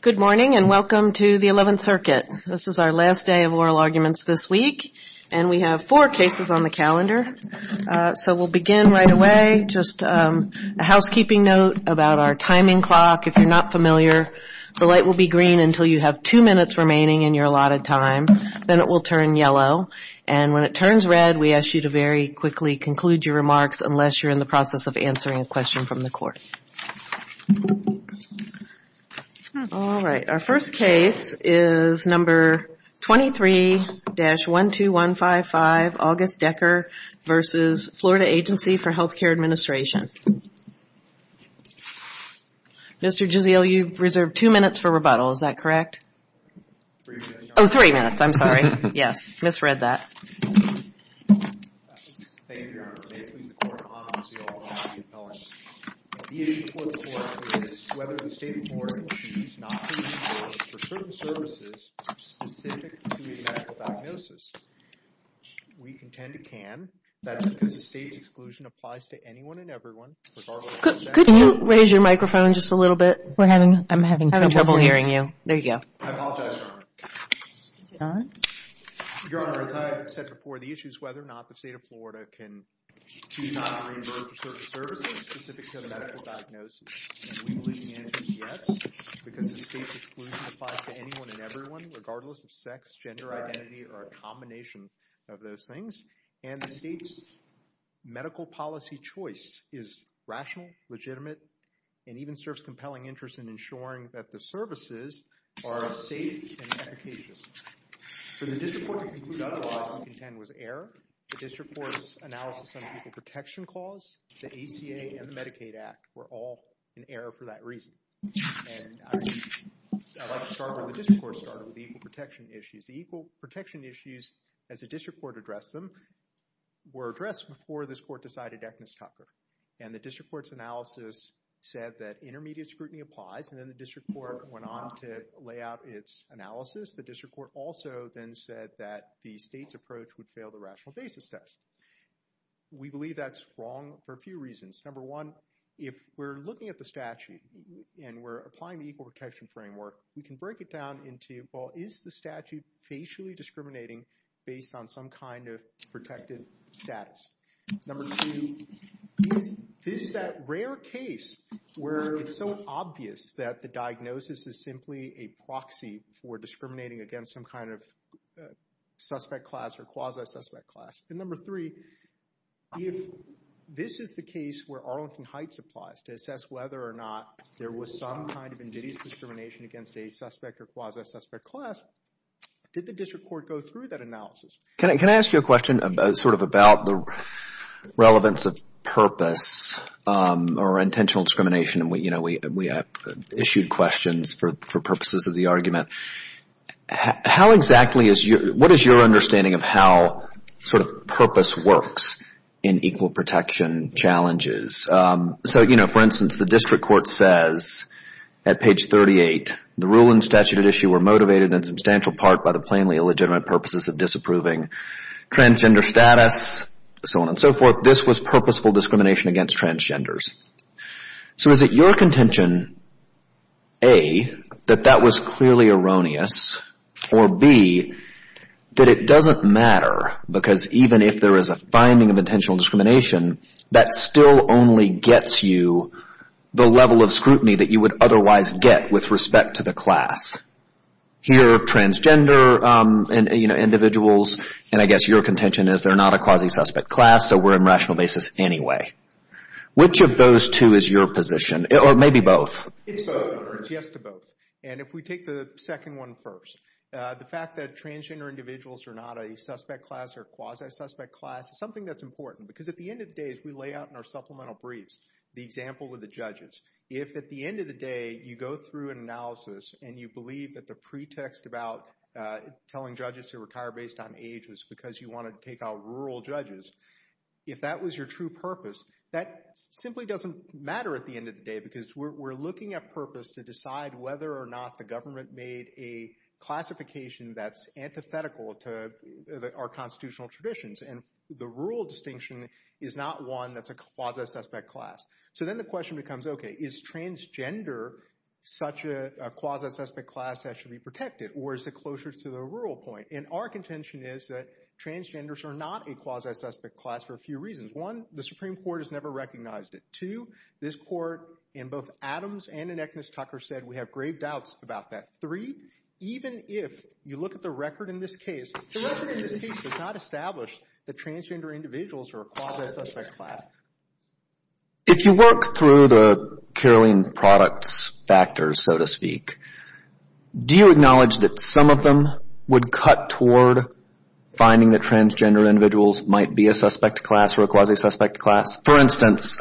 Good morning, and welcome to the Eleventh Circuit. This is our last day of oral arguments this week, and we have four cases on the calendar. So we'll begin right away. Just a housekeeping note about our timing clock. If you're not familiar, the light will be green until you have two minutes remaining in your allotted time. Then it will turn yellow. And when it turns red, we ask you to very quickly conclude your remarks, unless you're in the process of answering a question from the court. Our first case is number 23-12155, August Dekker v. Florida Agency for Health Care Administration. Mr. Gisele, you've reserved two minutes for rebuttal, is that correct? Three minutes, I'm sorry. Yes, misread that. Could you raise your microphone just a little bit? I'm having trouble hearing you. There you go. Your Honor, as I said before, the issue is whether or not the State of Florida can choose not to reimburse the service, specific to the medical diagnosis. And we believe the answer is yes, because the State's exclusion applies to anyone and everyone, regardless of sex, gender identity, or a combination of those things. And the State's medical policy choice is rational, legitimate, and even serves compelling interest in ensuring that the services are safe and efficacious. For the district court to conclude otherwise, we contend was error. The district court's analysis on the equal protection clause, the ACA, and the Medicaid Act were all in error for that reason. And I'd like to start where the district court started, with the equal protection issues. The equal protection issues, as the district court addressed them, were addressed before this court decided Agnes Tucker. And the district court's analysis said that intermediate scrutiny applies, and then the district court went on to lay out its analysis. The district court also then said that the State's approach would fail the rational basis test. We believe that's wrong for a few reasons. Number one, if we're looking at the statute and we're applying the equal protection framework, we can break it down into, well, is the statute facially discriminating based on some kind of protected status? Number two, is that rare case where it's so obvious that the diagnosis is simply a proxy for discriminating against some kind of suspect class or quasi-suspect class? And number three, if this is the case where Arlington Heights applies to assess whether or not there was some kind of invidious discrimination against a suspect or quasi-suspect class, did the district court go through that analysis? Can I ask you a question sort of about the relevance of purpose or intentional discrimination? We have issued questions for purposes of the argument. What is your understanding of how sort of purpose works in equal protection challenges? So, for instance, the district court says at page 38, the rule and statute at issue were motivated in substantial part by the plainly illegitimate purposes of disapproving transgender status, so on and so forth. This was purposeful discrimination against transgenders. So is it your contention, A, that that was clearly erroneous, or B, that it doesn't matter because even if there is a finding of intentional discrimination, that still only gets you the level of scrutiny that you would otherwise get with respect to the class? Here, transgender individuals, and I guess your contention is they're not a quasi-suspect class, so we're in rational basis anyway. Which of those two is your position, or maybe both? It's both. It's yes to both. And if we take the second one first, the fact that transgender individuals are not a suspect class or quasi-suspect class is something that's important because at the end of the day, as we lay out in our supplemental briefs, the example of the judges, if at the end of the day you go through an analysis and you believe that the pretext about telling judges to retire based on age was because you wanted to take out rural judges, if that was your true purpose, that simply doesn't matter at the end of the day because we're looking at purpose to decide whether or not the government made a classification that's antithetical to our constitutional traditions. And the rural distinction is not one that's a quasi-suspect class. So then the question becomes, okay, is transgender such a quasi-suspect class that should be protected, or is it closer to the rural point? And our contention is that transgenders are not a quasi-suspect class for a few reasons. One, the Supreme Court has never recognized it. Two, this court in both Adams and in Eckness-Tucker said we have grave doubts about that. Three, even if you look at the record in this case, the record in this case does not establish that transgender individuals are a quasi-suspect class. If you work through the Caroline products factors, so to speak, do you acknowledge that some of them would cut toward finding that transgender individuals might be a suspect class or a quasi-suspect class? For instance,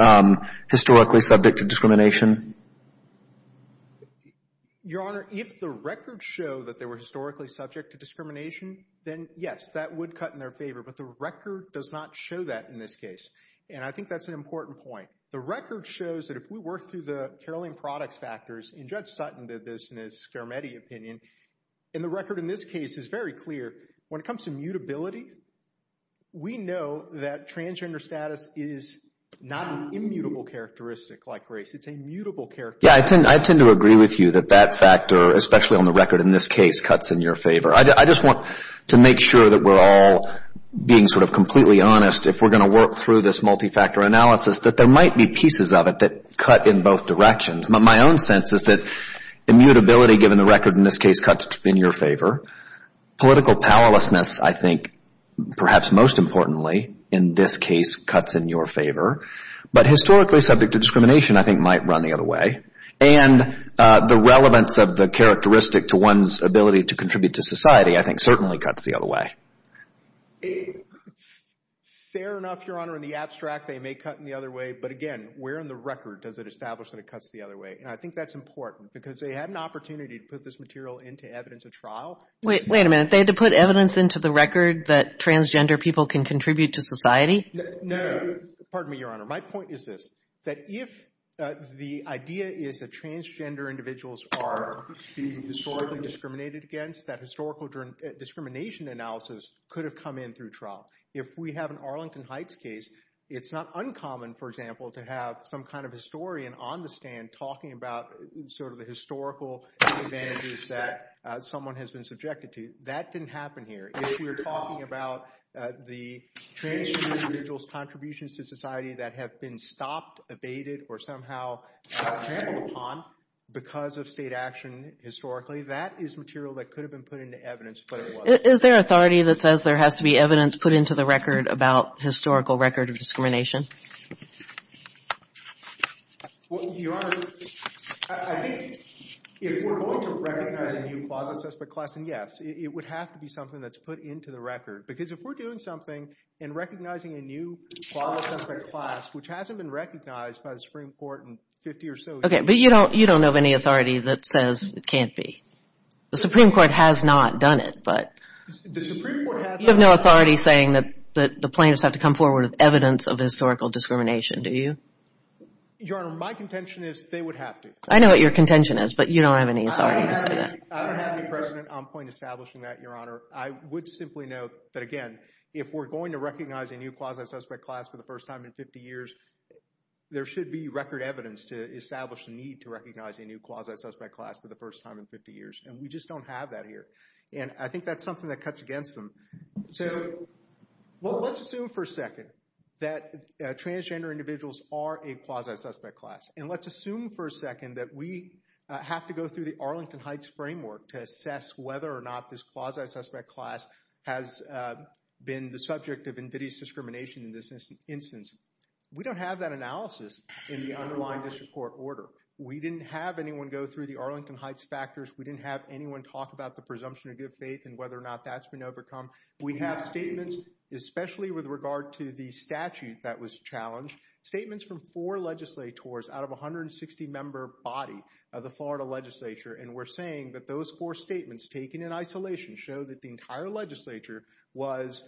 historically subject to discrimination? Your Honor, if the records show that they were historically subject to discrimination, then yes, that would cut in their favor. But the record does not show that in this case. And I think that's an important point. The record shows that if we work through the Caroline products factors, and Judge Sutton did this in his Scarametti opinion, and the record in this case is very clear, when it comes to mutability, we know that transgender status is not an immutable characteristic like race. It's a mutable characteristic. Yeah, I tend to agree with you that that factor, especially on the record in this case, cuts in your favor. I just want to make sure that we're all being sort of completely honest if we're going to work through this multi-factor analysis, that there might be pieces of it that cut in both directions. My own sense is that immutability, given the record in this case, cuts in your favor. Political powerlessness, I think, perhaps most importantly, in this case, cuts in your favor. But historically subject to discrimination, I think, might run the other way. And the relevance of the characteristic to one's ability to contribute to society, I think, certainly cuts the other way. Fair enough, Your Honor. In the abstract, they may cut in the other way. But again, where in the record does it establish that it cuts the other way? And I think that's important because they had an opportunity to put this material into evidence of trial. Wait, wait a minute. They had to put evidence into the record that transgender people can contribute to society? No. Pardon me, Your Honor. My point is this, that if the idea is that transgender individuals are being historically discriminated against, that historical discrimination analysis could have come in through trial. If we have an Arlington Heights case, it's not uncommon, for example, to have some kind of historian on the stand talking about sort of the historical advantages that someone has been subjected to. That didn't happen here. If we're talking about the transgender individuals' contributions to society that have been stopped, abated, or somehow trampled upon because of state action, historically, that is material that could have been put into evidence, but it wasn't. Is there authority that says there has to be evidence put into the record about historical record of discrimination? Well, Your Honor, I think if we're going to recognize a new quasi-suspect class, then yes, it would have to be something that's put into the record. Because if we're doing something and recognizing a new quasi-suspect class, which hasn't been recognized by the Supreme Court in 50 or so years... Okay, but you don't have any authority that says it can't be. The Supreme Court has not done it, but... The Supreme Court has not... You have no authority saying that the plaintiffs have to come forward with evidence of historical discrimination, do you? Your Honor, my contention is they would have to. I know what your contention is, but you don't have any authority to say that. I don't have any precedent on point establishing that, Your Honor. I would simply note that, again, if we're going to recognize a new quasi-suspect class for the first time in 50 years, there should be record evidence to establish the need to recognize a new quasi-suspect class for the first time in 50 years, and we just don't have that here. And I think that's something that cuts against them. So let's assume for a second that transgender individuals are a quasi-suspect class, and let's assume for a second that we have to go through the Arlington Heights framework to assess whether or not this quasi-suspect class has been the subject of invidious discrimination in this instance. We don't have that analysis in the underlying district court order. We didn't have anyone go through the Arlington Heights factors. We didn't have anyone talk about the presumption of good faith and whether or not that's been overcome. We have statements, especially with regard to the statute that was challenged, statements from four legislators out of a 160 member body of the Florida legislature, and we're saying that those four statements taken in isolation show that the entire legislature was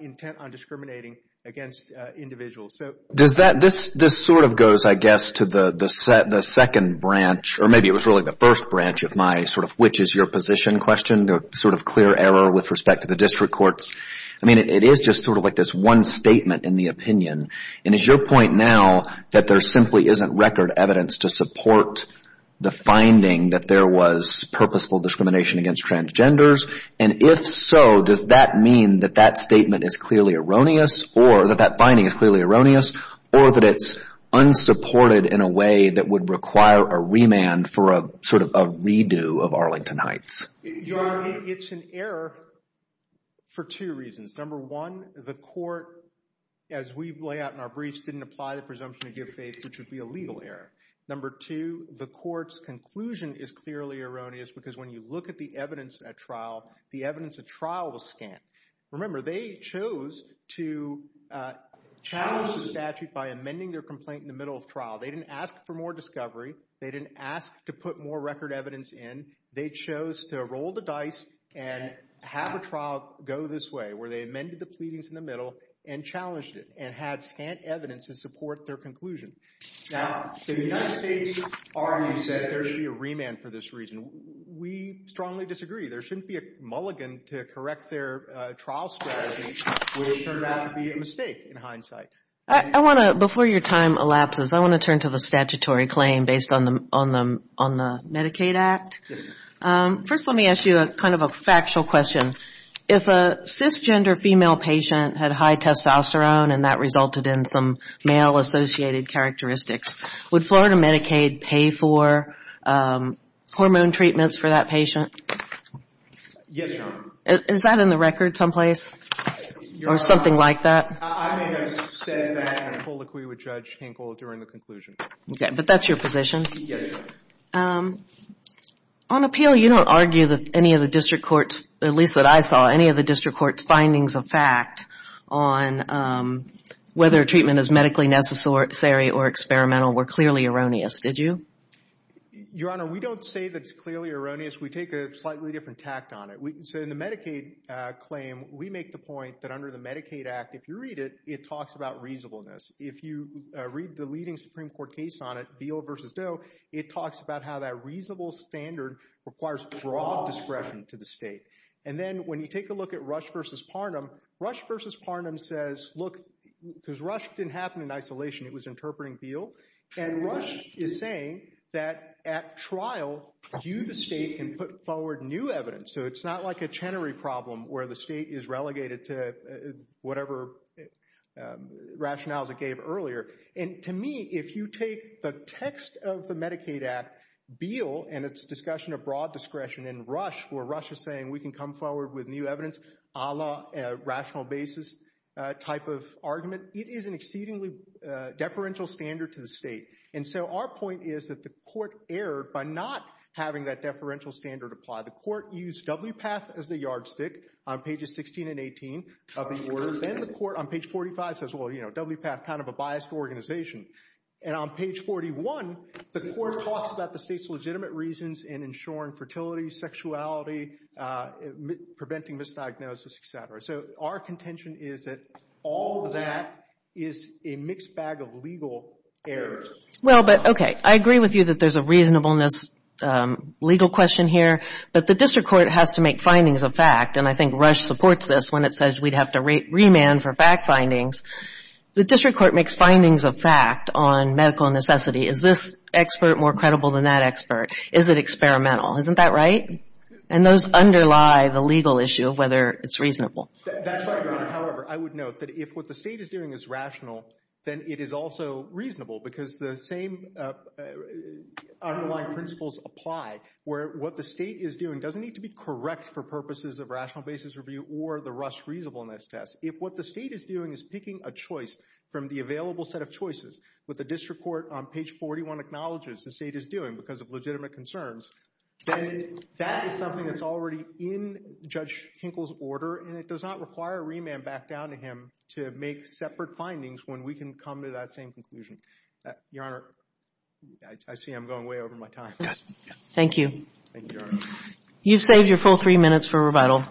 intent on discriminating against individuals. So does that, this sort of goes, I guess, to the second branch, or maybe it was really the first branch of my sort of which is your position question, the sort of clear error with respect to district courts. I mean, it is just sort of like this one statement in the opinion, and is your point now that there simply isn't record evidence to support the finding that there was purposeful discrimination against transgenders, and if so, does that mean that that statement is clearly erroneous, or that that finding is clearly erroneous, or that it's unsupported in a way that would require a remand for a sort of a redo of Arlington Heights? It's an error for two reasons. Number one, the court, as we lay out in our briefs, didn't apply the presumption to give faith, which would be a legal error. Number two, the court's conclusion is clearly erroneous, because when you look at the evidence at trial, the evidence at trial was scant. Remember, they chose to challenge the statute by amending their complaint in the middle of trial. They didn't ask for more discovery. They didn't ask to put more record evidence in. They chose to roll the dice and have a trial go this way, where they amended the pleadings in the middle and challenged it, and had scant evidence to support their conclusion. Now, the United States Army said there should be a remand for this reason. We strongly disagree. There shouldn't be a mulligan to correct their trial strategy, which turned out to be a mistake in hindsight. I want to, before your time elapses, I want to ask you a question based on the Medicaid Act. First, let me ask you a factual question. If a cisgender female patient had high testosterone and that resulted in some male-associated characteristics, would Florida Medicaid pay for hormone treatments for that patient? Yes, Your Honor. Is that in the record someplace, or something like that? I may have said that as a colloquy with Judge Hinkle during the conclusion. Okay, but that's your position. On appeal, you don't argue that any of the district courts, at least that I saw, any of the district courts' findings of fact on whether treatment is medically necessary or experimental were clearly erroneous, did you? Your Honor, we don't say that it's clearly erroneous. We take a slightly different tact on it. In the Medicaid claim, we make the point that under the Medicaid Act, if you read it, it talks about reasonableness. If you read the leading Supreme Court case on it, Beal v. Doe, it talks about how that reasonable standard requires broad discretion to the state. And then when you take a look at Rush v. Parnum, Rush v. Parnum says, look, because Rush didn't happen in isolation, it was interpreting Beal. And Rush is saying that at trial, you, the state, can put forward new evidence. So it's not like a Chenery problem where the state is relegated to whatever rationales it gave earlier. And to me, if you take the text of the Medicaid Act, Beal and its discussion of broad discretion, and Rush, where Rush is saying we can come forward with new evidence a la rational basis type of argument, it is an exceedingly deferential standard to the state. And so our point is that the court erred by not having that deferential standard apply. The court used WPATH as the yardstick on pages 16 and 18 of the order. Then the court on page 45 says, well, you know, WPATH, kind of a biased organization. And on page 41, the court talks about the state's legitimate reasons in ensuring fertility, sexuality, preventing misdiagnosis, et cetera. So our contention is that all of that is a mixed bag of legal errors. Well, but, okay, I agree with you that there's a reasonableness legal question here. But the district court has to make findings of fact. And I think Rush supports this when it says we'd have to remand for fact findings. The district court makes findings of fact on medical necessity. Is this expert more credible than that expert? Is it experimental? Isn't that right? And those underlie the legal issue of whether it's reasonable. That's right, Your Honor. However, I would note that if what the state is doing is rational, then it is also reasonable, because the same underlying principles apply, where what the state is doing doesn't need to be correct for purposes of rational basis review or the Rush reasonableness test. If what the state is doing is picking a choice from the available set of choices, what the district court on page 41 acknowledges the state is doing because of legitimate concerns, then that is something that's already in Judge Hinkle's order. And it does not require a remand back down to him to make separate findings when we can come to that same conclusion. Your Honor, I see I'm going way over my time. Thank you. You've saved your full three minutes for revital.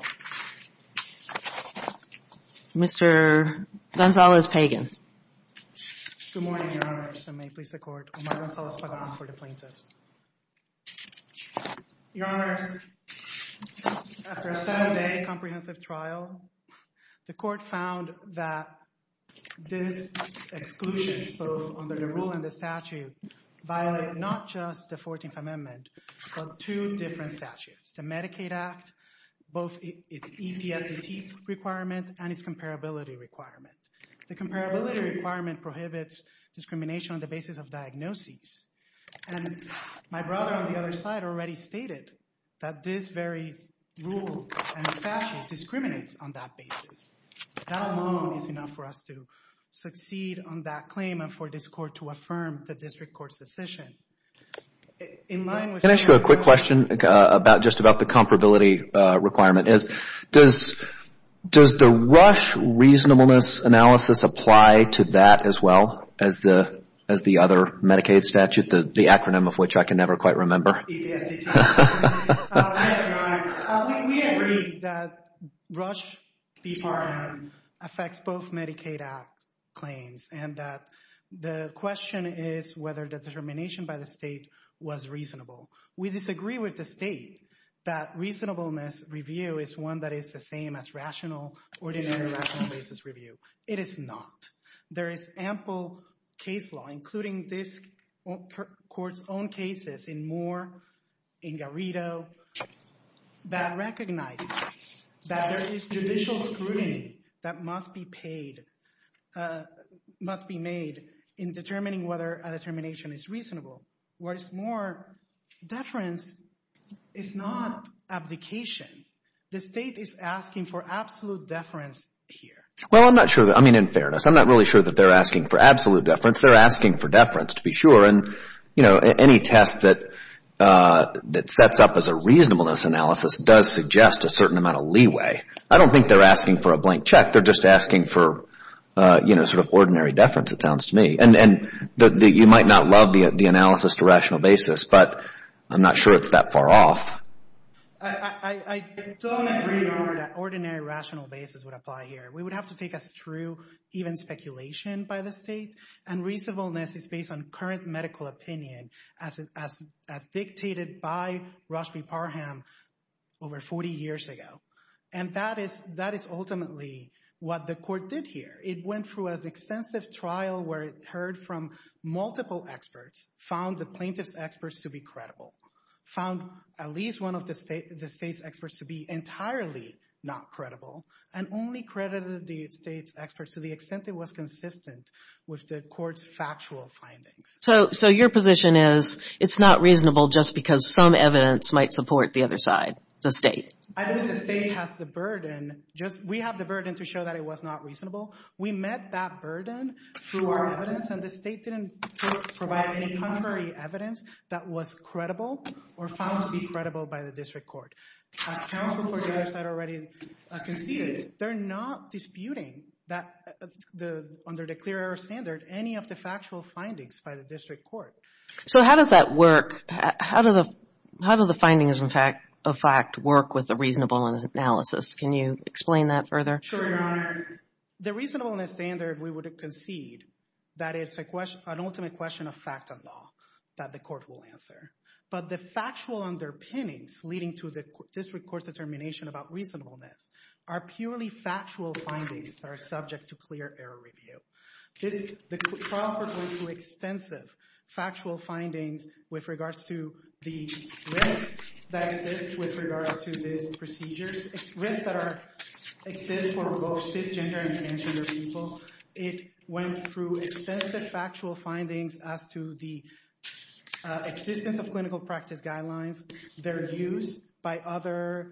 Mr. Gonzalez-Pagan. Good morning, Your Honors. I may please the court. Omar Gonzalez-Pagan for the plaintiffs. Your Honors, after a seven-day comprehensive trial, the court found that this exclusion both under the rule and the statute violate not just the 14th Amendment, but two different statutes, the Medicaid Act, both its EPSDT requirement and its comparability requirement. The comparability requirement prohibits discrimination on the basis of diagnoses. And my brother on the other side already stated that this very rule and statute discriminates on that basis. That alone is enough for us to succeed on that claim and for this court to affirm the district court's decision. In line with that... Can I ask you a quick question about just about the comparability requirement? Does the RUSH reasonableness analysis apply to that as well as the other Medicaid statute, the acronym of which I can never quite remember? EPSDT. Yes, Your Honor. We agree that RUSH B-PARM affects both Medicaid Act claims and that the question is whether determination by the state was reasonable. We disagree with the state that reasonableness review is one that is the same as rational, ordinary rational basis review. It is not. There is ample case law, including this court's own cases in Moore, in Garrido, that recognizes that there is judicial scrutiny that must be paid, must be made in determining whether a determination is reasonable. Whereas Moore, deference is not abdication. The state is asking for absolute deference here. Well, I'm not sure. I mean, in fairness, I'm not really sure that they're asking for absolute deference. They're asking for deference, to be sure. And, you know, any test that sets up as a reasonableness analysis does suggest a certain amount of leeway. I don't think they're asking for a blank check. They're just asking for, you know, sort of ordinary deference, it sounds to me. And you might not love the analysis to rational basis, but I'm not sure it's that far off. I don't agree with how ordinary rational basis would apply here. We would have to take us through even speculation by the state. And reasonableness is based on current medical opinion, as dictated by Rashmi Parham over 40 years ago. And that is ultimately what the court did here. It went through an extensive trial where it heard from multiple experts, found the plaintiff's experts to be found at least one of the state's experts to be entirely not credible, and only credited the state's experts to the extent it was consistent with the court's factual findings. So your position is it's not reasonable just because some evidence might support the other side, the state? I think the state has the burden, just we have the burden to show that it was not reasonable. We met that burden through our evidence that was credible or found to be credible by the district court. As counsel for the other side already conceded, they're not disputing that under the clear error standard, any of the factual findings by the district court. So how does that work? How do the findings, in fact, work with the reasonableness analysis? Can you explain that further? The reasonableness standard, we would concede that it's an ultimate question of fact of law. The court will answer. But the factual underpinnings leading to the district court's determination about reasonableness are purely factual findings that are subject to clear error review. The trial went through extensive factual findings with regards to the risk that exists with regards to these procedures, risks that exist for both cisgender and transgender people. It went through extensive factual findings as to the existence of clinical practice guidelines, their use by other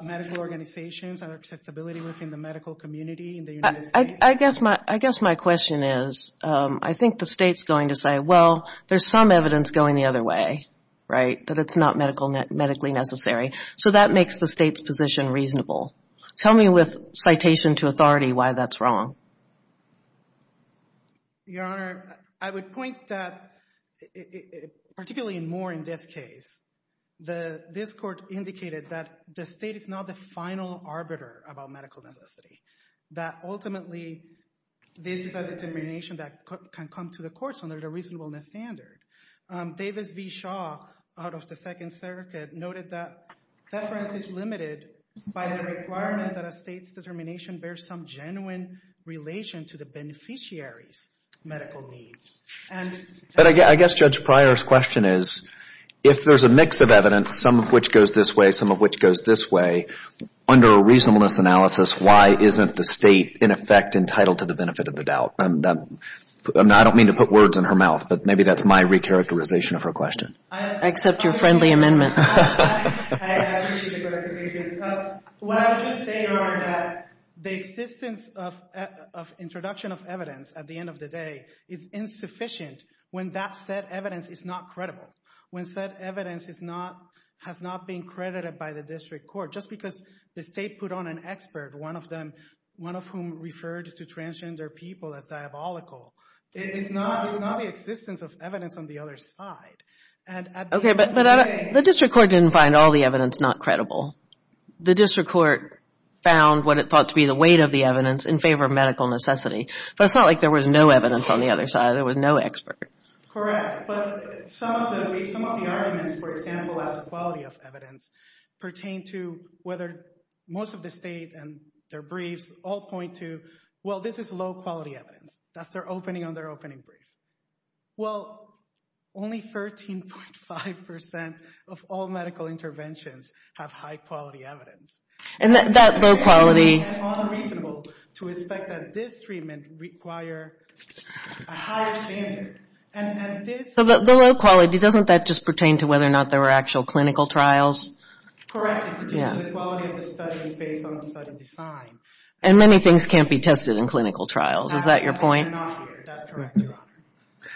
medical organizations, and acceptability within the medical community in the United States. I guess my question is, I think the state's going to say, well, there's some evidence going the other way, right, that it's not medically necessary. So that makes the state's position reasonable. Tell me with citation to authority why that's wrong. Your Honor, I would point that, particularly more in this case, this court indicated that the state is not the final arbiter about medical necessity, that ultimately this is a determination that can come to the courts under the reasonableness standard. Davis v. Shaw, out of the Second Circuit, noted that deference is limited by the requirement that a state's determination bears some genuine relation to the beneficiary's medical needs. But I guess Judge Pryor's question is, if there's a mix of evidence, some of which goes this way, some of which goes this way, under a reasonableness analysis, why isn't the state, in effect, entitled to the benefit of the doubt? I don't mean to put words in her mouth, but maybe that's my recharacterization of her question. I accept your friendly amendment. I appreciate your recharacterization. What I would just say, Your Honor, that the existence of introduction of evidence at the end of the day is insufficient when that said evidence is not credible, when said evidence has not been credited by the district court. Just because the state put on an expert, one of whom referred to transgender people as diabolical, is not the existence of evidence on the other side. Okay, but the district court didn't find all the evidence not credible. The district court found what it thought to be the weight of the evidence in favor of medical necessity. But it's not like there was no evidence on the other side. There was no expert. Correct. But some of the arguments, for example, as a quality of evidence, pertain to whether most of the state and their briefs all point to, well, this is low quality evidence. That's their opening on their opening brief. Well, only 13.5 percent of all medical interventions have high quality evidence. And that low quality... It's unreasonable to expect that this treatment require a higher standard. So the low quality, doesn't that just pertain to whether or not there were actual clinical trials? Correct. It pertains to the quality of the studies based on the study design. And many things can't be tested in clinical trials. Is that your point? That's correct, Your Honor.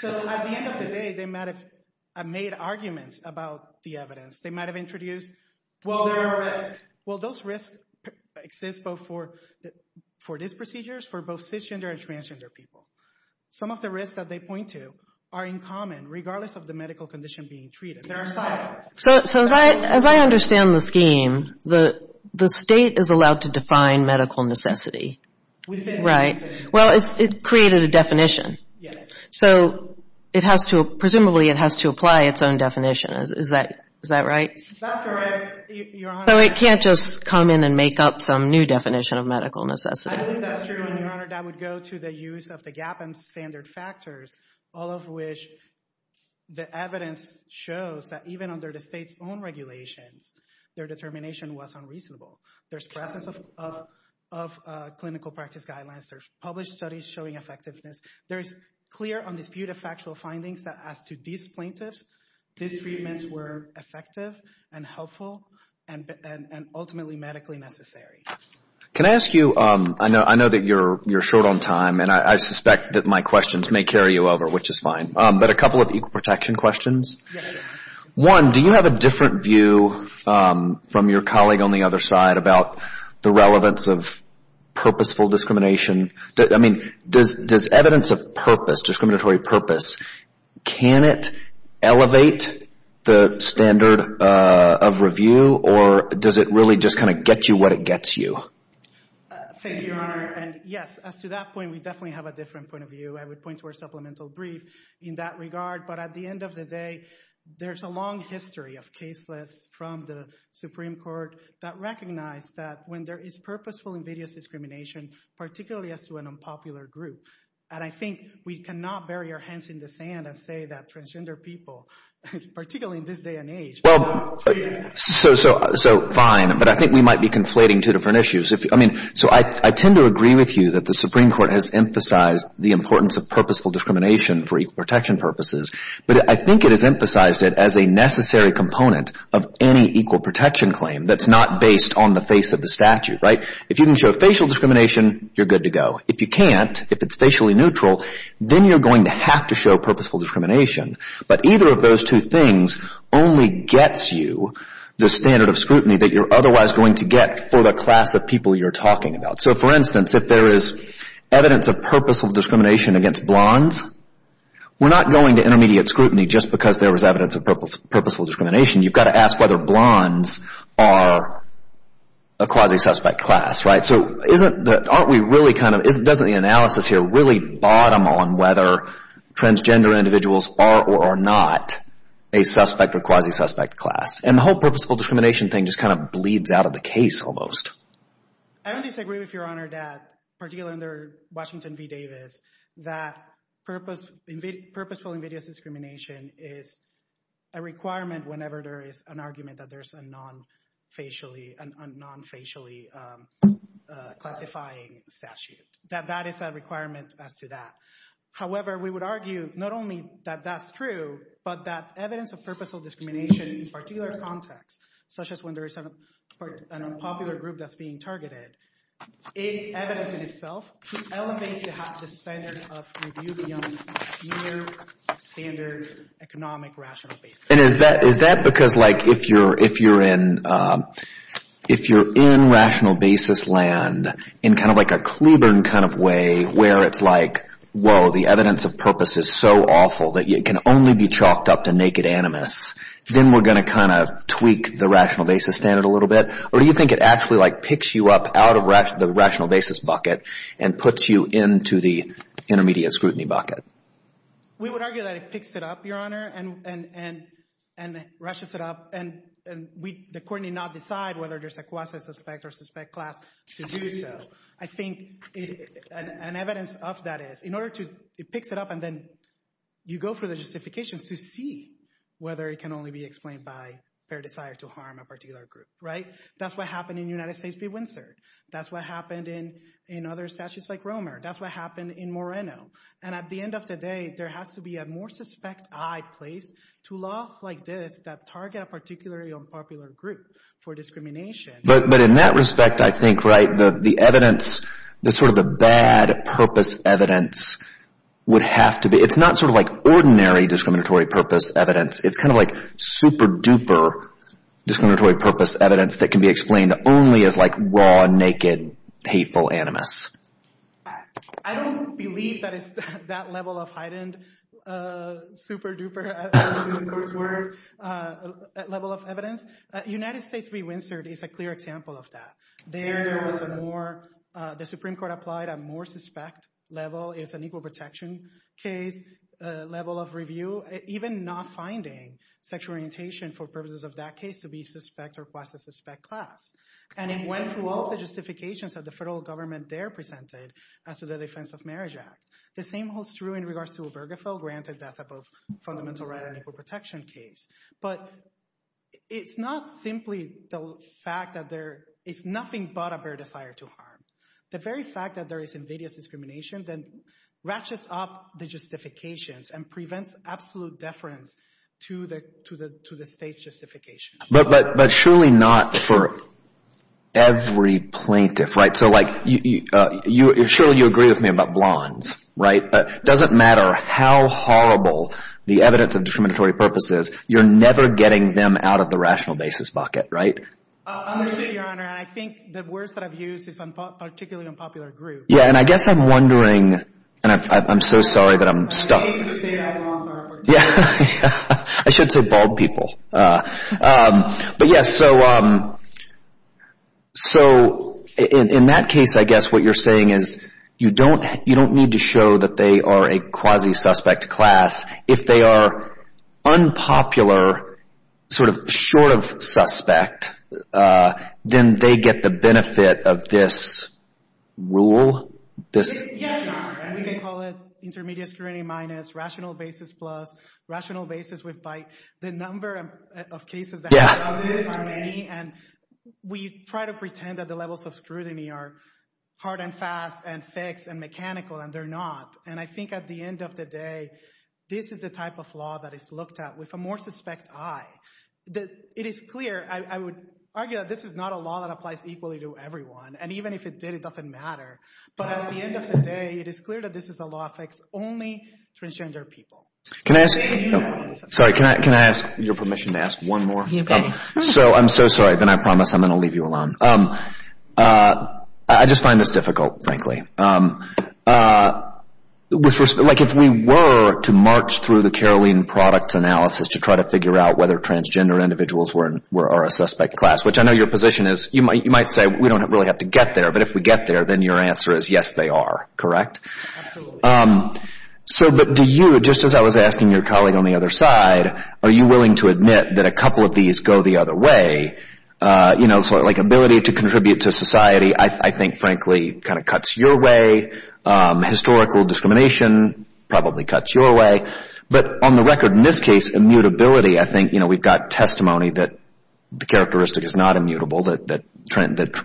So at the end of the day, they might have made arguments about the evidence. They might have introduced... Well, there are risks. Well, those risks exist both for these procedures, for both cisgender and transgender people. Some of the risks that they point to are in common, regardless of the medical condition being treated. There are side effects. So as I understand the scheme, the state is allowed to define medical necessity. Right. Well, it created a definition. So presumably it has to apply its own definition. Is that right? That's correct, Your Honor. So it can't just come in and make up some new definition of medical necessity. I think that's true, Your Honor. That would go to the use of the gap and standard factors, all of which the evidence shows that even under the state's own regulations, their determination was unreasonable. There's presence of clinical practice guidelines. There's published studies showing effectiveness. There is clear undisputed factual findings that as to these plaintiffs, these treatments were effective and helpful and ultimately medically necessary. Can I ask you... I know that you're short on time and I suspect that my questions may carry you over, which is fine. But a couple of equal protection questions. One, do you have a different view from your colleague on the other side about the relevance of purposeful discrimination? I mean, does evidence of purpose, discriminatory purpose, can it elevate the standard of review or does it really just kind of get you what it gets you? Thank you, Your Honor. And yes, as to that point, we definitely have a different point of view. I would point to our supplemental brief in that regard. But at the end of the day, there's a long history of case lists from the Supreme Court that recognize that when there is purposeful invidious discrimination, particularly as to an unpopular group, and I think we cannot bury our hands in the sand and say that transgender people, particularly in this day and age... So fine, but I think we might be conflating two different issues. I mean, so I tend to agree with you that the Supreme Court has emphasized the importance of purposeful discrimination for equal protection purposes, but I think it has emphasized it as a necessary component of any equal protection claim that's not based on the face of the statute, right? If you can show facial discrimination, you're good to go. If you can't, if it's facially neutral, then you're going to have to show purposeful discrimination. But either of those two things only gets you the standard of scrutiny that you're otherwise going to get for the class of people you're talking about. So, for instance, if there is evidence of purposeful discrimination against blondes, we're not going to intermediate scrutiny just because there was evidence of purposeful discrimination. You've got to ask whether blondes are a quasi-suspect class, right? So isn't that, aren't we really kind of, doesn't the analysis here really bottom on whether transgender individuals are or are not a suspect or quasi-suspect class? And the whole purposeful discrimination thing just kind of bleeds out of the case almost. I would disagree with Your Honor that, particularly under Washington v. Davis, that purposeful invidious discrimination is a requirement whenever there is an argument that there's a non-facially, a non-facially classifying statute, that that is a requirement as to that. However, we would argue not only that that's true, but that evidence of purposeful discrimination in particular contexts, such as when there is an unpopular group that's being targeted, is evidence in itself to elevate the standard of review beyond mere standard economic rational basis. And is that, is that because like if you're, if you're in, if you're in rational basis land in kind of like a Klubern kind of way where it's like, whoa, the evidence of purpose is so awful that it can only be chalked up to naked animus, then we're going to kind of tweak the rational basis standard a little bit? Or do you think it actually like picks you up out of the rational basis bucket and puts you into the intermediate scrutiny bucket? We would argue that it picks it up, Your Honor, and, and, and, and rushes it up. And, and we, the court did not decide whether there's a quasi-suspect or suspect class to do so. I think an evidence of that is in order to, it picks it up and then you go for the justifications to see whether it can only be explained by fair desire to harm a particular group, right? That's what happened in United States v. Windsor. That's what happened in, in other statutes like Romer. That's what happened in Moreno. And at the end of the day, there has to be a more suspect eye placed to laws like this that target a particularly unpopular group for discrimination. But, but in that respect, I think, right, the, the evidence, the sort of the bad purpose evidence would have to be, it's not sort of like ordinary discriminatory purpose evidence. It's kind of like super-duper discriminatory purpose evidence that can be explained only as like raw, naked, hateful animus. I don't believe that it's that level of heightened, super-duper, in court's words, level of evidence. United States v. Windsor is a clear example of that. There, there was a more, the Supreme Court applied a more suspect level. It was an equal protection case, a level of review, even not finding sexual orientation for purposes of that case to be suspect or quasi-suspect class. And it went through all the justifications that the federal government there presented as to the Defense of Marriage Act. The same holds true in regards to Obergefell, granted that's a both fundamental and equal protection case. But it's not simply the fact that there is nothing but a bare desire to harm. The very fact that there is invidious discrimination then ratchets up the justifications and prevents absolute deference to the, to the, to the state's justification. But, but, but surely not for every plaintiff, right? So like you, you, you, surely you agree with me about blondes, right? It doesn't matter how horrible the evidence of discriminatory purpose is, you're never getting them out of the rational basis bucket, right? I understand, Your Honor, and I think the words that I've used is particularly unpopular group. Yeah, and I guess I'm wondering, and I, I'm so sorry that I'm stuck. I hate to say that, but I'm sorry. Yeah, I should say bald people. But yes, so, so in, in that case, I guess what you're saying is you don't, you don't need to show that they are a quasi-suspect class. If they are unpopular, sort of short of suspect, then they get the benefit of this rule, this. Yes, Your Honor, and we can call it intermediate scrutiny minus, rational basis plus, rational basis with by the number of cases. Yeah. And we try to pretend that the levels of scrutiny are hard and fast and fixed and mechanical, and they're not. And I think at the end of the day, this is the type of law that is looked at with a more suspect eye. It is clear, I would argue that this is not a law that applies equally to everyone, and even if it did, it doesn't matter. But at the end of the day, it is clear that this is a law that affects only transgender people. Can I ask, sorry, can I, can I ask your permission to ask one more? So I'm so sorry, then I promise I'm going to leave you alone. I just find this difficult, frankly. Like, if we were to march through the Caroline products analysis to try to figure out whether transgender individuals were, are a suspect class, which I know your position is, you might, you might say we don't really have to get there, but if we get there, then your answer is yes, they are, correct? Absolutely. So, but do you, just as I was asking your colleague on the other side, are you willing to admit that a couple of these go the other way? You know, like ability to contribute to society, I think, frankly, kind of cuts your way. Historical discrimination probably cuts your way. But on the record, in this case, immutability, I think, you know, we've got testimony that the characteristic is not immutable, that,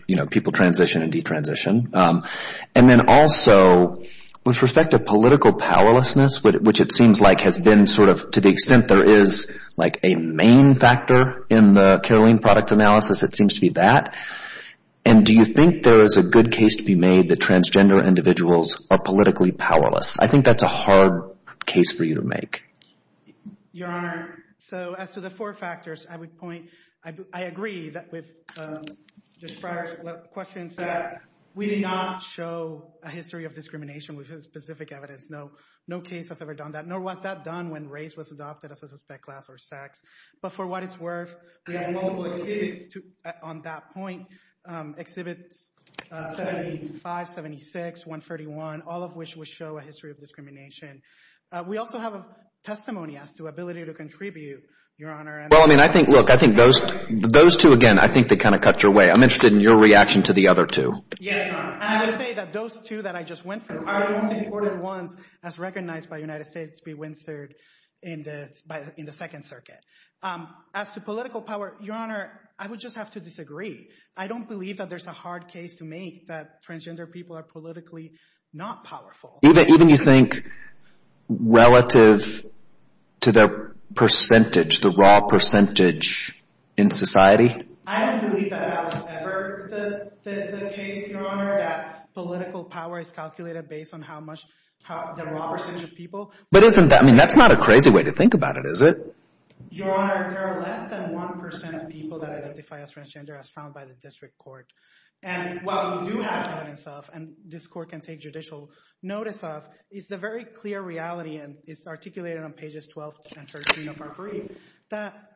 you know, people transition and detransition. And then also, with respect to political powerlessness, which it seems like has been sort of, to the extent there is, like, a main factor in the Caroline product analysis, it seems to be that. And do you think there is a good case to be made that transgender individuals are politically powerless? I think that's a hard case for you to make. Your Honor, so as to the four factors, I would point, I agree that we've described questions that we did not show a history of discrimination with specific evidence. No case has ever done that, nor was that done when race was adopted as a suspect class or sex. But for what it's worth, we have multiple exhibits on that point. Exhibits 75, 76, 131, all of which would show a history of discrimination. We also have a testimony as to ability to contribute, Your Honor. Well, I mean, I think, look, I think those two, again, I think they kind of cut your way. I'm interested in your reaction to the other two. Yes, Your Honor. I would say that those two that I just went through are the most important ones as recognized by United States v. Winstead in the Second Circuit. As to political power, Your Honor, I would just have to disagree. I don't believe that there's a hard case to make that transgender people are politically not powerful. Even you think relative to the percentage, the raw percentage in society? I don't believe that that was ever the case, Your Honor, that political power is calculated based on how much, the raw percentage of people. But isn't that, I mean, that's not a crazy way to think about it, is it? Your Honor, there are less than 1% of people that identify as transgender as found by the district court. And while we do have evidence of, and this court can take judicial notice of, is the very clear reality, and it's articulated on pages 12 and 13 of our brief, that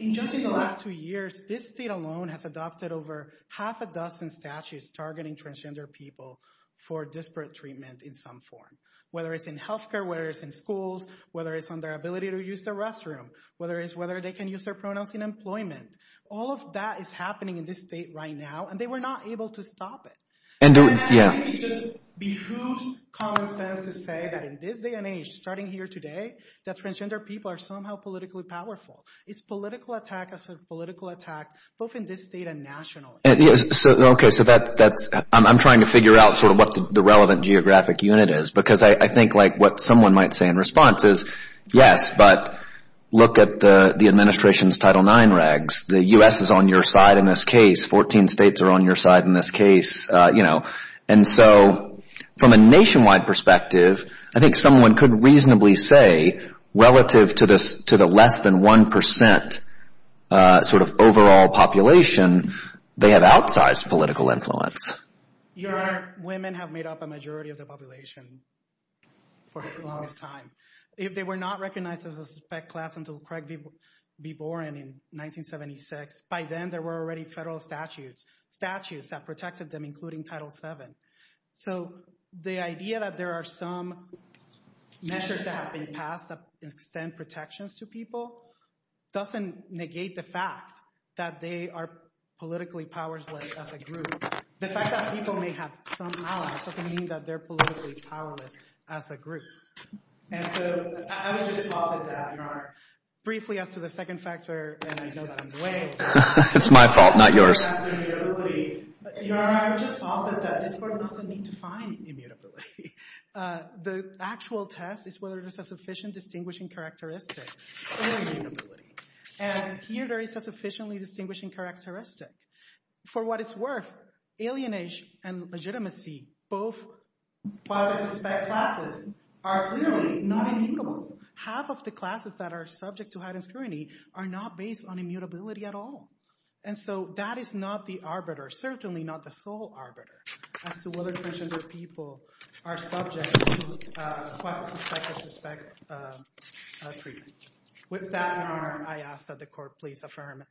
just in the last two years, this state alone has adopted over half a dozen statutes targeting transgender people for disparate treatment in some form. Whether it's in health care, whether it's in schools, whether it's on their ability to use the restroom, whether it's whether they can use their pronouns in employment. All of that is happening in this state right now, and they were not able to stop it. And I think it just behooves common sense to say that in this day and age, starting here today, that transgender people are somehow politically powerful. It's political attack after political attack, both in this state and nationally. And so, okay, so that's, I'm trying to figure out sort of what the relevant geographic unit is. Because I think, like, what someone might say in response is, yes, but look at the administration's Title IX regs. The U.S. is on your side in this case. Fourteen states are on your side in this case, you know. And so, from a nationwide perspective, I think someone could reasonably say relative to the less than 1% sort of overall population, they have outsized political influence. Your women have made up a majority of the population for a long time. If they were not recognized as a suspect class until Craig B. Boren in 1976, by then there were already federal statutes, statutes that protected them, including Title VII. So, the idea that there are some measures that have been passed that extend protections to people doesn't negate the fact that they are politically powerless as a group. The fact that people may have some allies doesn't mean that they're politically powerless as a group. And so, I would just posit that, Your Honor. Briefly, as to the second factor, and I know that I'm delaying. It's my fault, not yours. Your Honor, I would just posit that this Court doesn't need to find immutability. The actual test is whether there's a sufficient distinguishing characteristic or immutability. And here, there is a sufficiently distinguishing characteristic. For what it's worth, alienage and legitimacy, both, as I suspect, classes, are clearly not half of the classes that are subject to heightened scrutiny are not based on immutability at all. And so, that is not the arbiter, certainly not the sole arbiter, as to whether transgender people are subject to quasi-suspect or suspect treatment. With that, Your Honor, I ask that the Court please affirm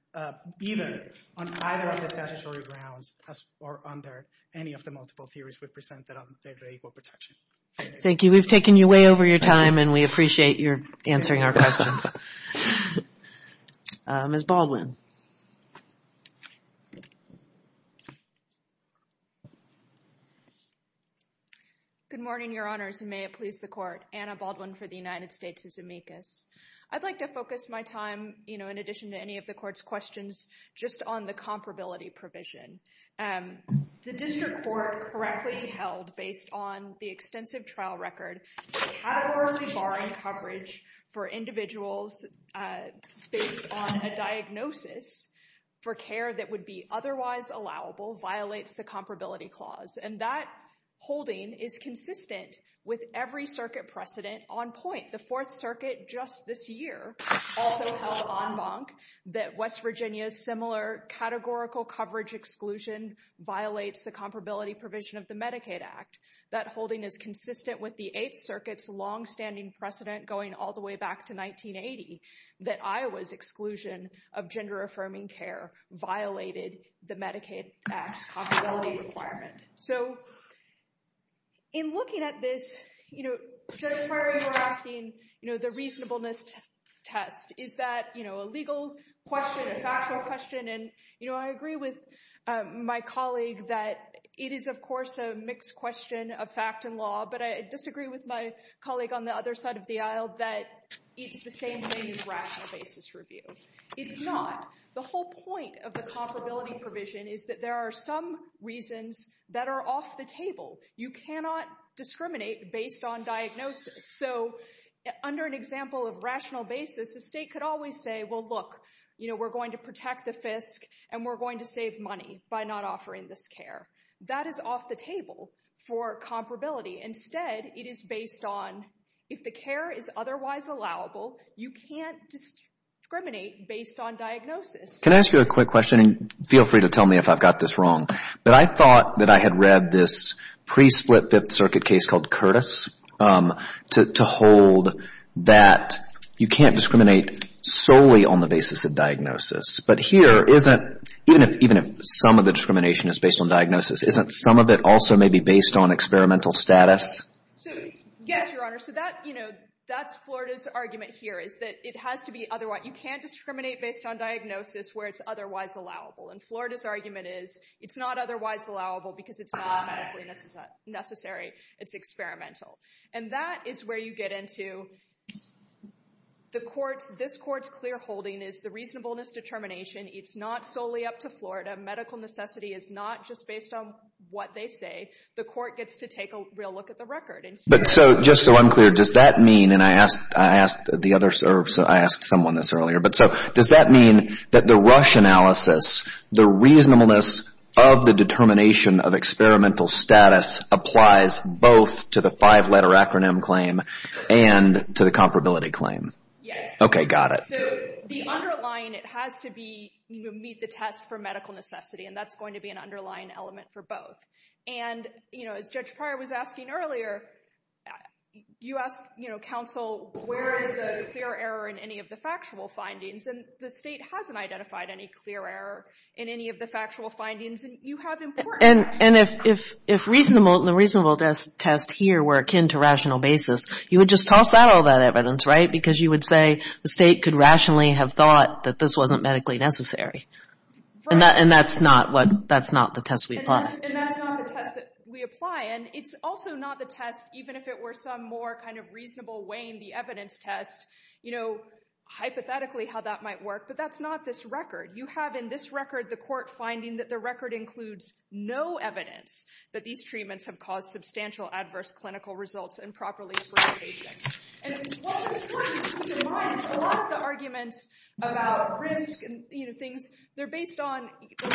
either on either of the statutory grounds or under any of the multiple theories we've presented on federal equal protection. Thank you. We've taken you way over your time, and we appreciate your answering our questions. Ms. Baldwin. Good morning, Your Honors, and may it please the Court. Anna Baldwin for the United States of Zemeckis. I'd like to focus my time, you know, in addition to any of the Court's questions, just on the comparability provision. And the District Court correctly held, based on the extensive trial record, categorically barring coverage for individuals based on a diagnosis for care that would be otherwise allowable violates the comparability clause. And that holding is consistent with every circuit precedent on point. The Fourth Circuit, just this year, also held en banc that West Virginia's similar categorical coverage exclusion violates the comparability provision of the Medicaid Act. That holding is consistent with the Eighth Circuit's longstanding precedent, going all the way back to 1980, that Iowa's exclusion of gender-affirming care violated the Medicaid Act's comparability requirement. So in looking at this, you know, Judge Perry, you're asking, you know, the reasonableness test. Is that, you know, a legal question, a factual question? And, you know, I agree with my colleague that it is, of course, a mixed question of fact and law. But I disagree with my colleague on the other side of the aisle that it's the same thing as rational basis review. It's not. The whole point of the comparability provision is that there are some reasons that are off the table. You cannot discriminate based on diagnosis. So under an example of rational basis, the state could always say, well, look, you know, we're going to protect the FISC and we're going to save money by not offering this care. That is off the table for comparability. Instead, it is based on if the care is otherwise allowable, you can't discriminate based on diagnosis. Can I ask you a quick question? And feel free to tell me if I've got this wrong. But I thought that I had read this pre-split Fifth Circuit case called Curtis. To hold that you can't discriminate solely on the basis of diagnosis. But here, even if some of the discrimination is based on diagnosis, isn't some of it also maybe based on experimental status? So, yes, Your Honor. So that, you know, that's Florida's argument here is that it has to be otherwise. You can't discriminate based on diagnosis where it's otherwise allowable. And Florida's argument is it's not otherwise allowable because it's not medically necessary. It's experimental. And that is where you get into the court's, this court's clear holding is the reasonableness determination. It's not solely up to Florida. Medical necessity is not just based on what they say. The court gets to take a real look at the record. But so, just so I'm clear, does that mean, and I asked the other, I asked someone this earlier. But so, does that mean that the Rush analysis, the reasonableness of the determination of experimental status applies both to the five-letter acronym claim and to the comparability claim? Yes. Okay, got it. So the underlying, it has to be, you know, meet the test for medical necessity. And that's going to be an underlying element for both. And, you know, as Judge Pryor was asking earlier, you asked, you know, counsel, where is the clear error in any of the factual findings? And the state hasn't identified any clear error in any of the factual findings. And you have important... And if reasonable, the reasonable test here were akin to rational basis, you would just toss out all that evidence, right? Because you would say the state could rationally have thought that this wasn't medically necessary. And that's not what, that's not the test we apply. And that's not the test that we apply. And it's also not the test, even if it were some more kind of reasonable weighing the evidence test, you know, hypothetically how that might work. But that's not this record. You have in this record, the court finding that the record includes no evidence that these treatments have caused substantial adverse clinical results and properly for the patients. And what's important to keep in mind is a lot of the arguments about risk and, you know, things, they're based on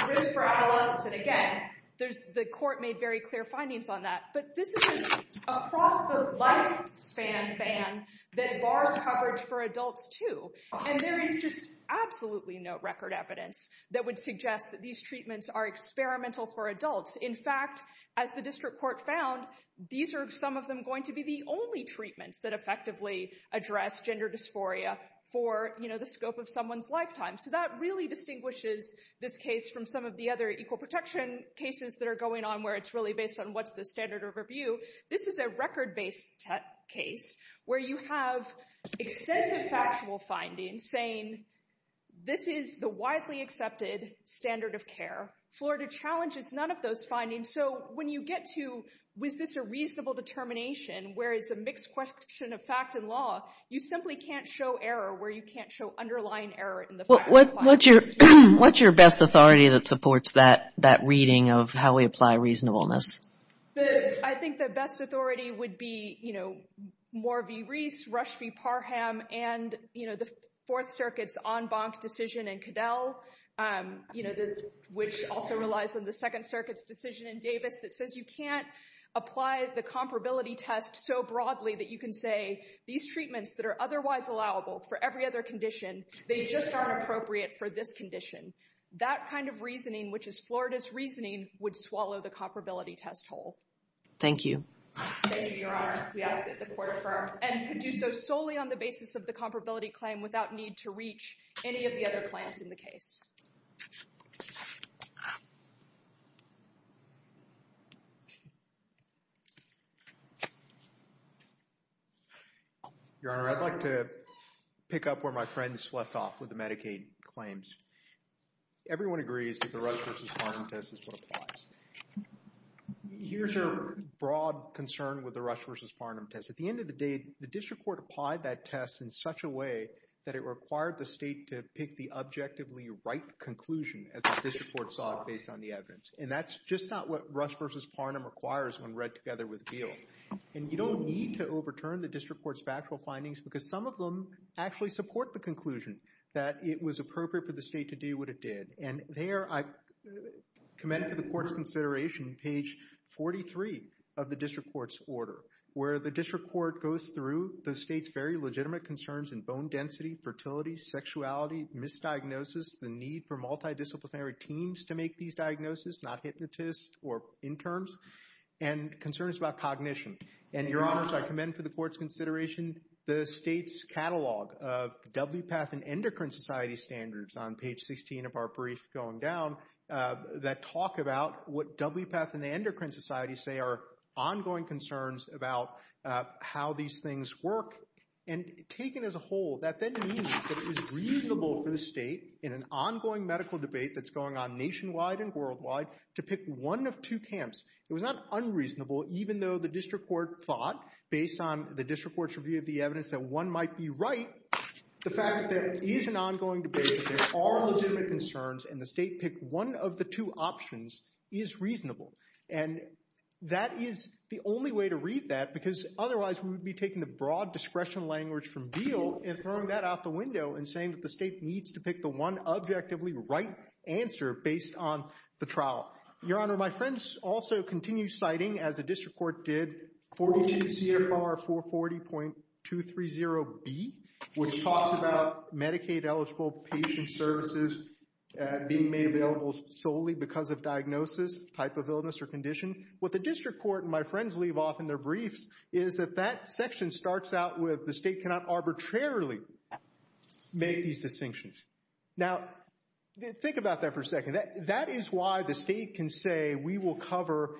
risk for adolescence. And again, there's, the court made very clear findings on that. But this is across the lifespan ban that bars coverage for adults too. And there is just absolutely no record evidence that would suggest that these treatments are experimental for adults. In fact, as the district court found, these are some of them going to be the only treatments that effectively address gender dysphoria for, you know, the scope of someone's lifetime. So that really distinguishes this case from some of the other equal protection cases that are going on where it's really based on what's the standard of review. This is a record-based case where you have excessive factual findings saying, this is the widely accepted standard of care. Florida challenges none of those findings. So when you get to, was this a reasonable determination, where it's a mixed question of fact and law, you simply can't show error where you can't show underlying error. What's your best authority that supports that reading of how we apply reasonableness? I think the best authority would be, you know, Moore v. Reese, Rush v. Parham, and, you know, the Fourth Circuit's en banc decision in Cadell, you know, which also relies on the Second Circuit's decision in Davis that says you can't apply the comparability test so broadly that you can say these treatments that are otherwise allowable for every other condition, they just aren't appropriate for this condition. That kind of reasoning, which is Florida's reasoning, would swallow the comparability test whole. Thank you. Thank you, Your Honor. We ask that the Court affirm and could do so solely on the basis of the comparability claim without need to reach any of the other claims in the case. Your Honor, I'd like to pick up where my friends left off with the Medicaid claims. Everyone agrees that the Rush v. Parham test is what applies. Here's a broad concern with the Rush v. Parham test. At the end of the day, the district court applied that test in such a way that it required the state to pick the objectively right conclusion that the district court sought based on the evidence. And that's just not what Rush v. Parham requires when read together with Beal. And you don't need to overturn the district court's factual findings because some of them actually support the conclusion that it was appropriate for the state to do what it did. And there, I commend to the Court's consideration, page 43 of the district court's order, where the district court goes through the state's very legitimate concerns in bone density, fertility, sexuality, misdiagnosis, the need for multidisciplinary teams to make these diagnoses, not hypnotists or interns, and concerns about cognition. And, Your Honors, I commend to the Court's consideration the state's catalog of WPATH and Endocrine Society standards on page 16 of our brief going down that talk about what WPATH and the Endocrine Society say are ongoing concerns about how these things work. And taken as a whole, that then means that it was reasonable for the state, in an ongoing medical debate that's going on nationwide and worldwide, to pick one of two camps. It was not unreasonable, even though the district court thought, based on the district court's review of the evidence, that one might be right. The fact that it is an ongoing debate, that there are legitimate concerns, and the state picked one of the two options, is reasonable. And that is the only way to read that, because otherwise, we would be taking the broad discretion language from Beal and throwing that out the window and saying that the state needs to pick the one objectively right answer based on the trial. Your Honor, my friends also continue citing, as the district court did, 42 CFR 440.230B, which talks about Medicaid-eligible patient services being made available solely because of diagnosis, type of illness, or condition. What the district court and my friends leave off in their briefs is that that section starts out with the state cannot arbitrarily make these distinctions. Now, think about that for a second. That is why the state can say, we will cover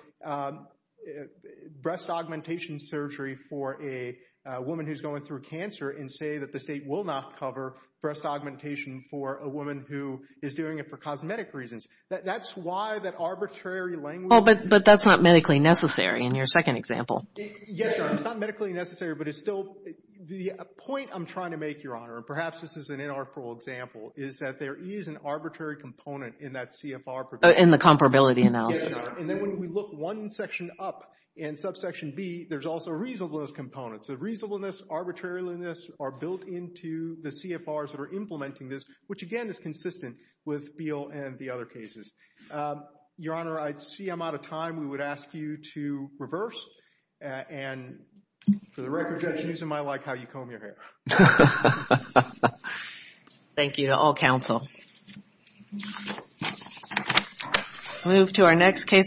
breast augmentation surgery for a woman who's going through cancer, and say that the state will not cover breast augmentation for a woman who is doing it for cosmetic reasons. That's why that arbitrary language... But that's not medically necessary in your second example. Yes, Your Honor, it's not medically necessary, but it's still... The point I'm trying to make, Your Honor, and perhaps this is an inarticulate example, is that there is an arbitrary component in that CFR provision. In the comparability analysis. And then when we look one section up in subsection B, there's also reasonableness components. The reasonableness, arbitrariness are built into the CFRs that are implementing this, which again is consistent with Beal and the other cases. Your Honor, I see I'm out of time. We would ask you to reverse, and for the record, Judge, using my like how you comb your hair. Thank you to all counsel. Move to our next case on...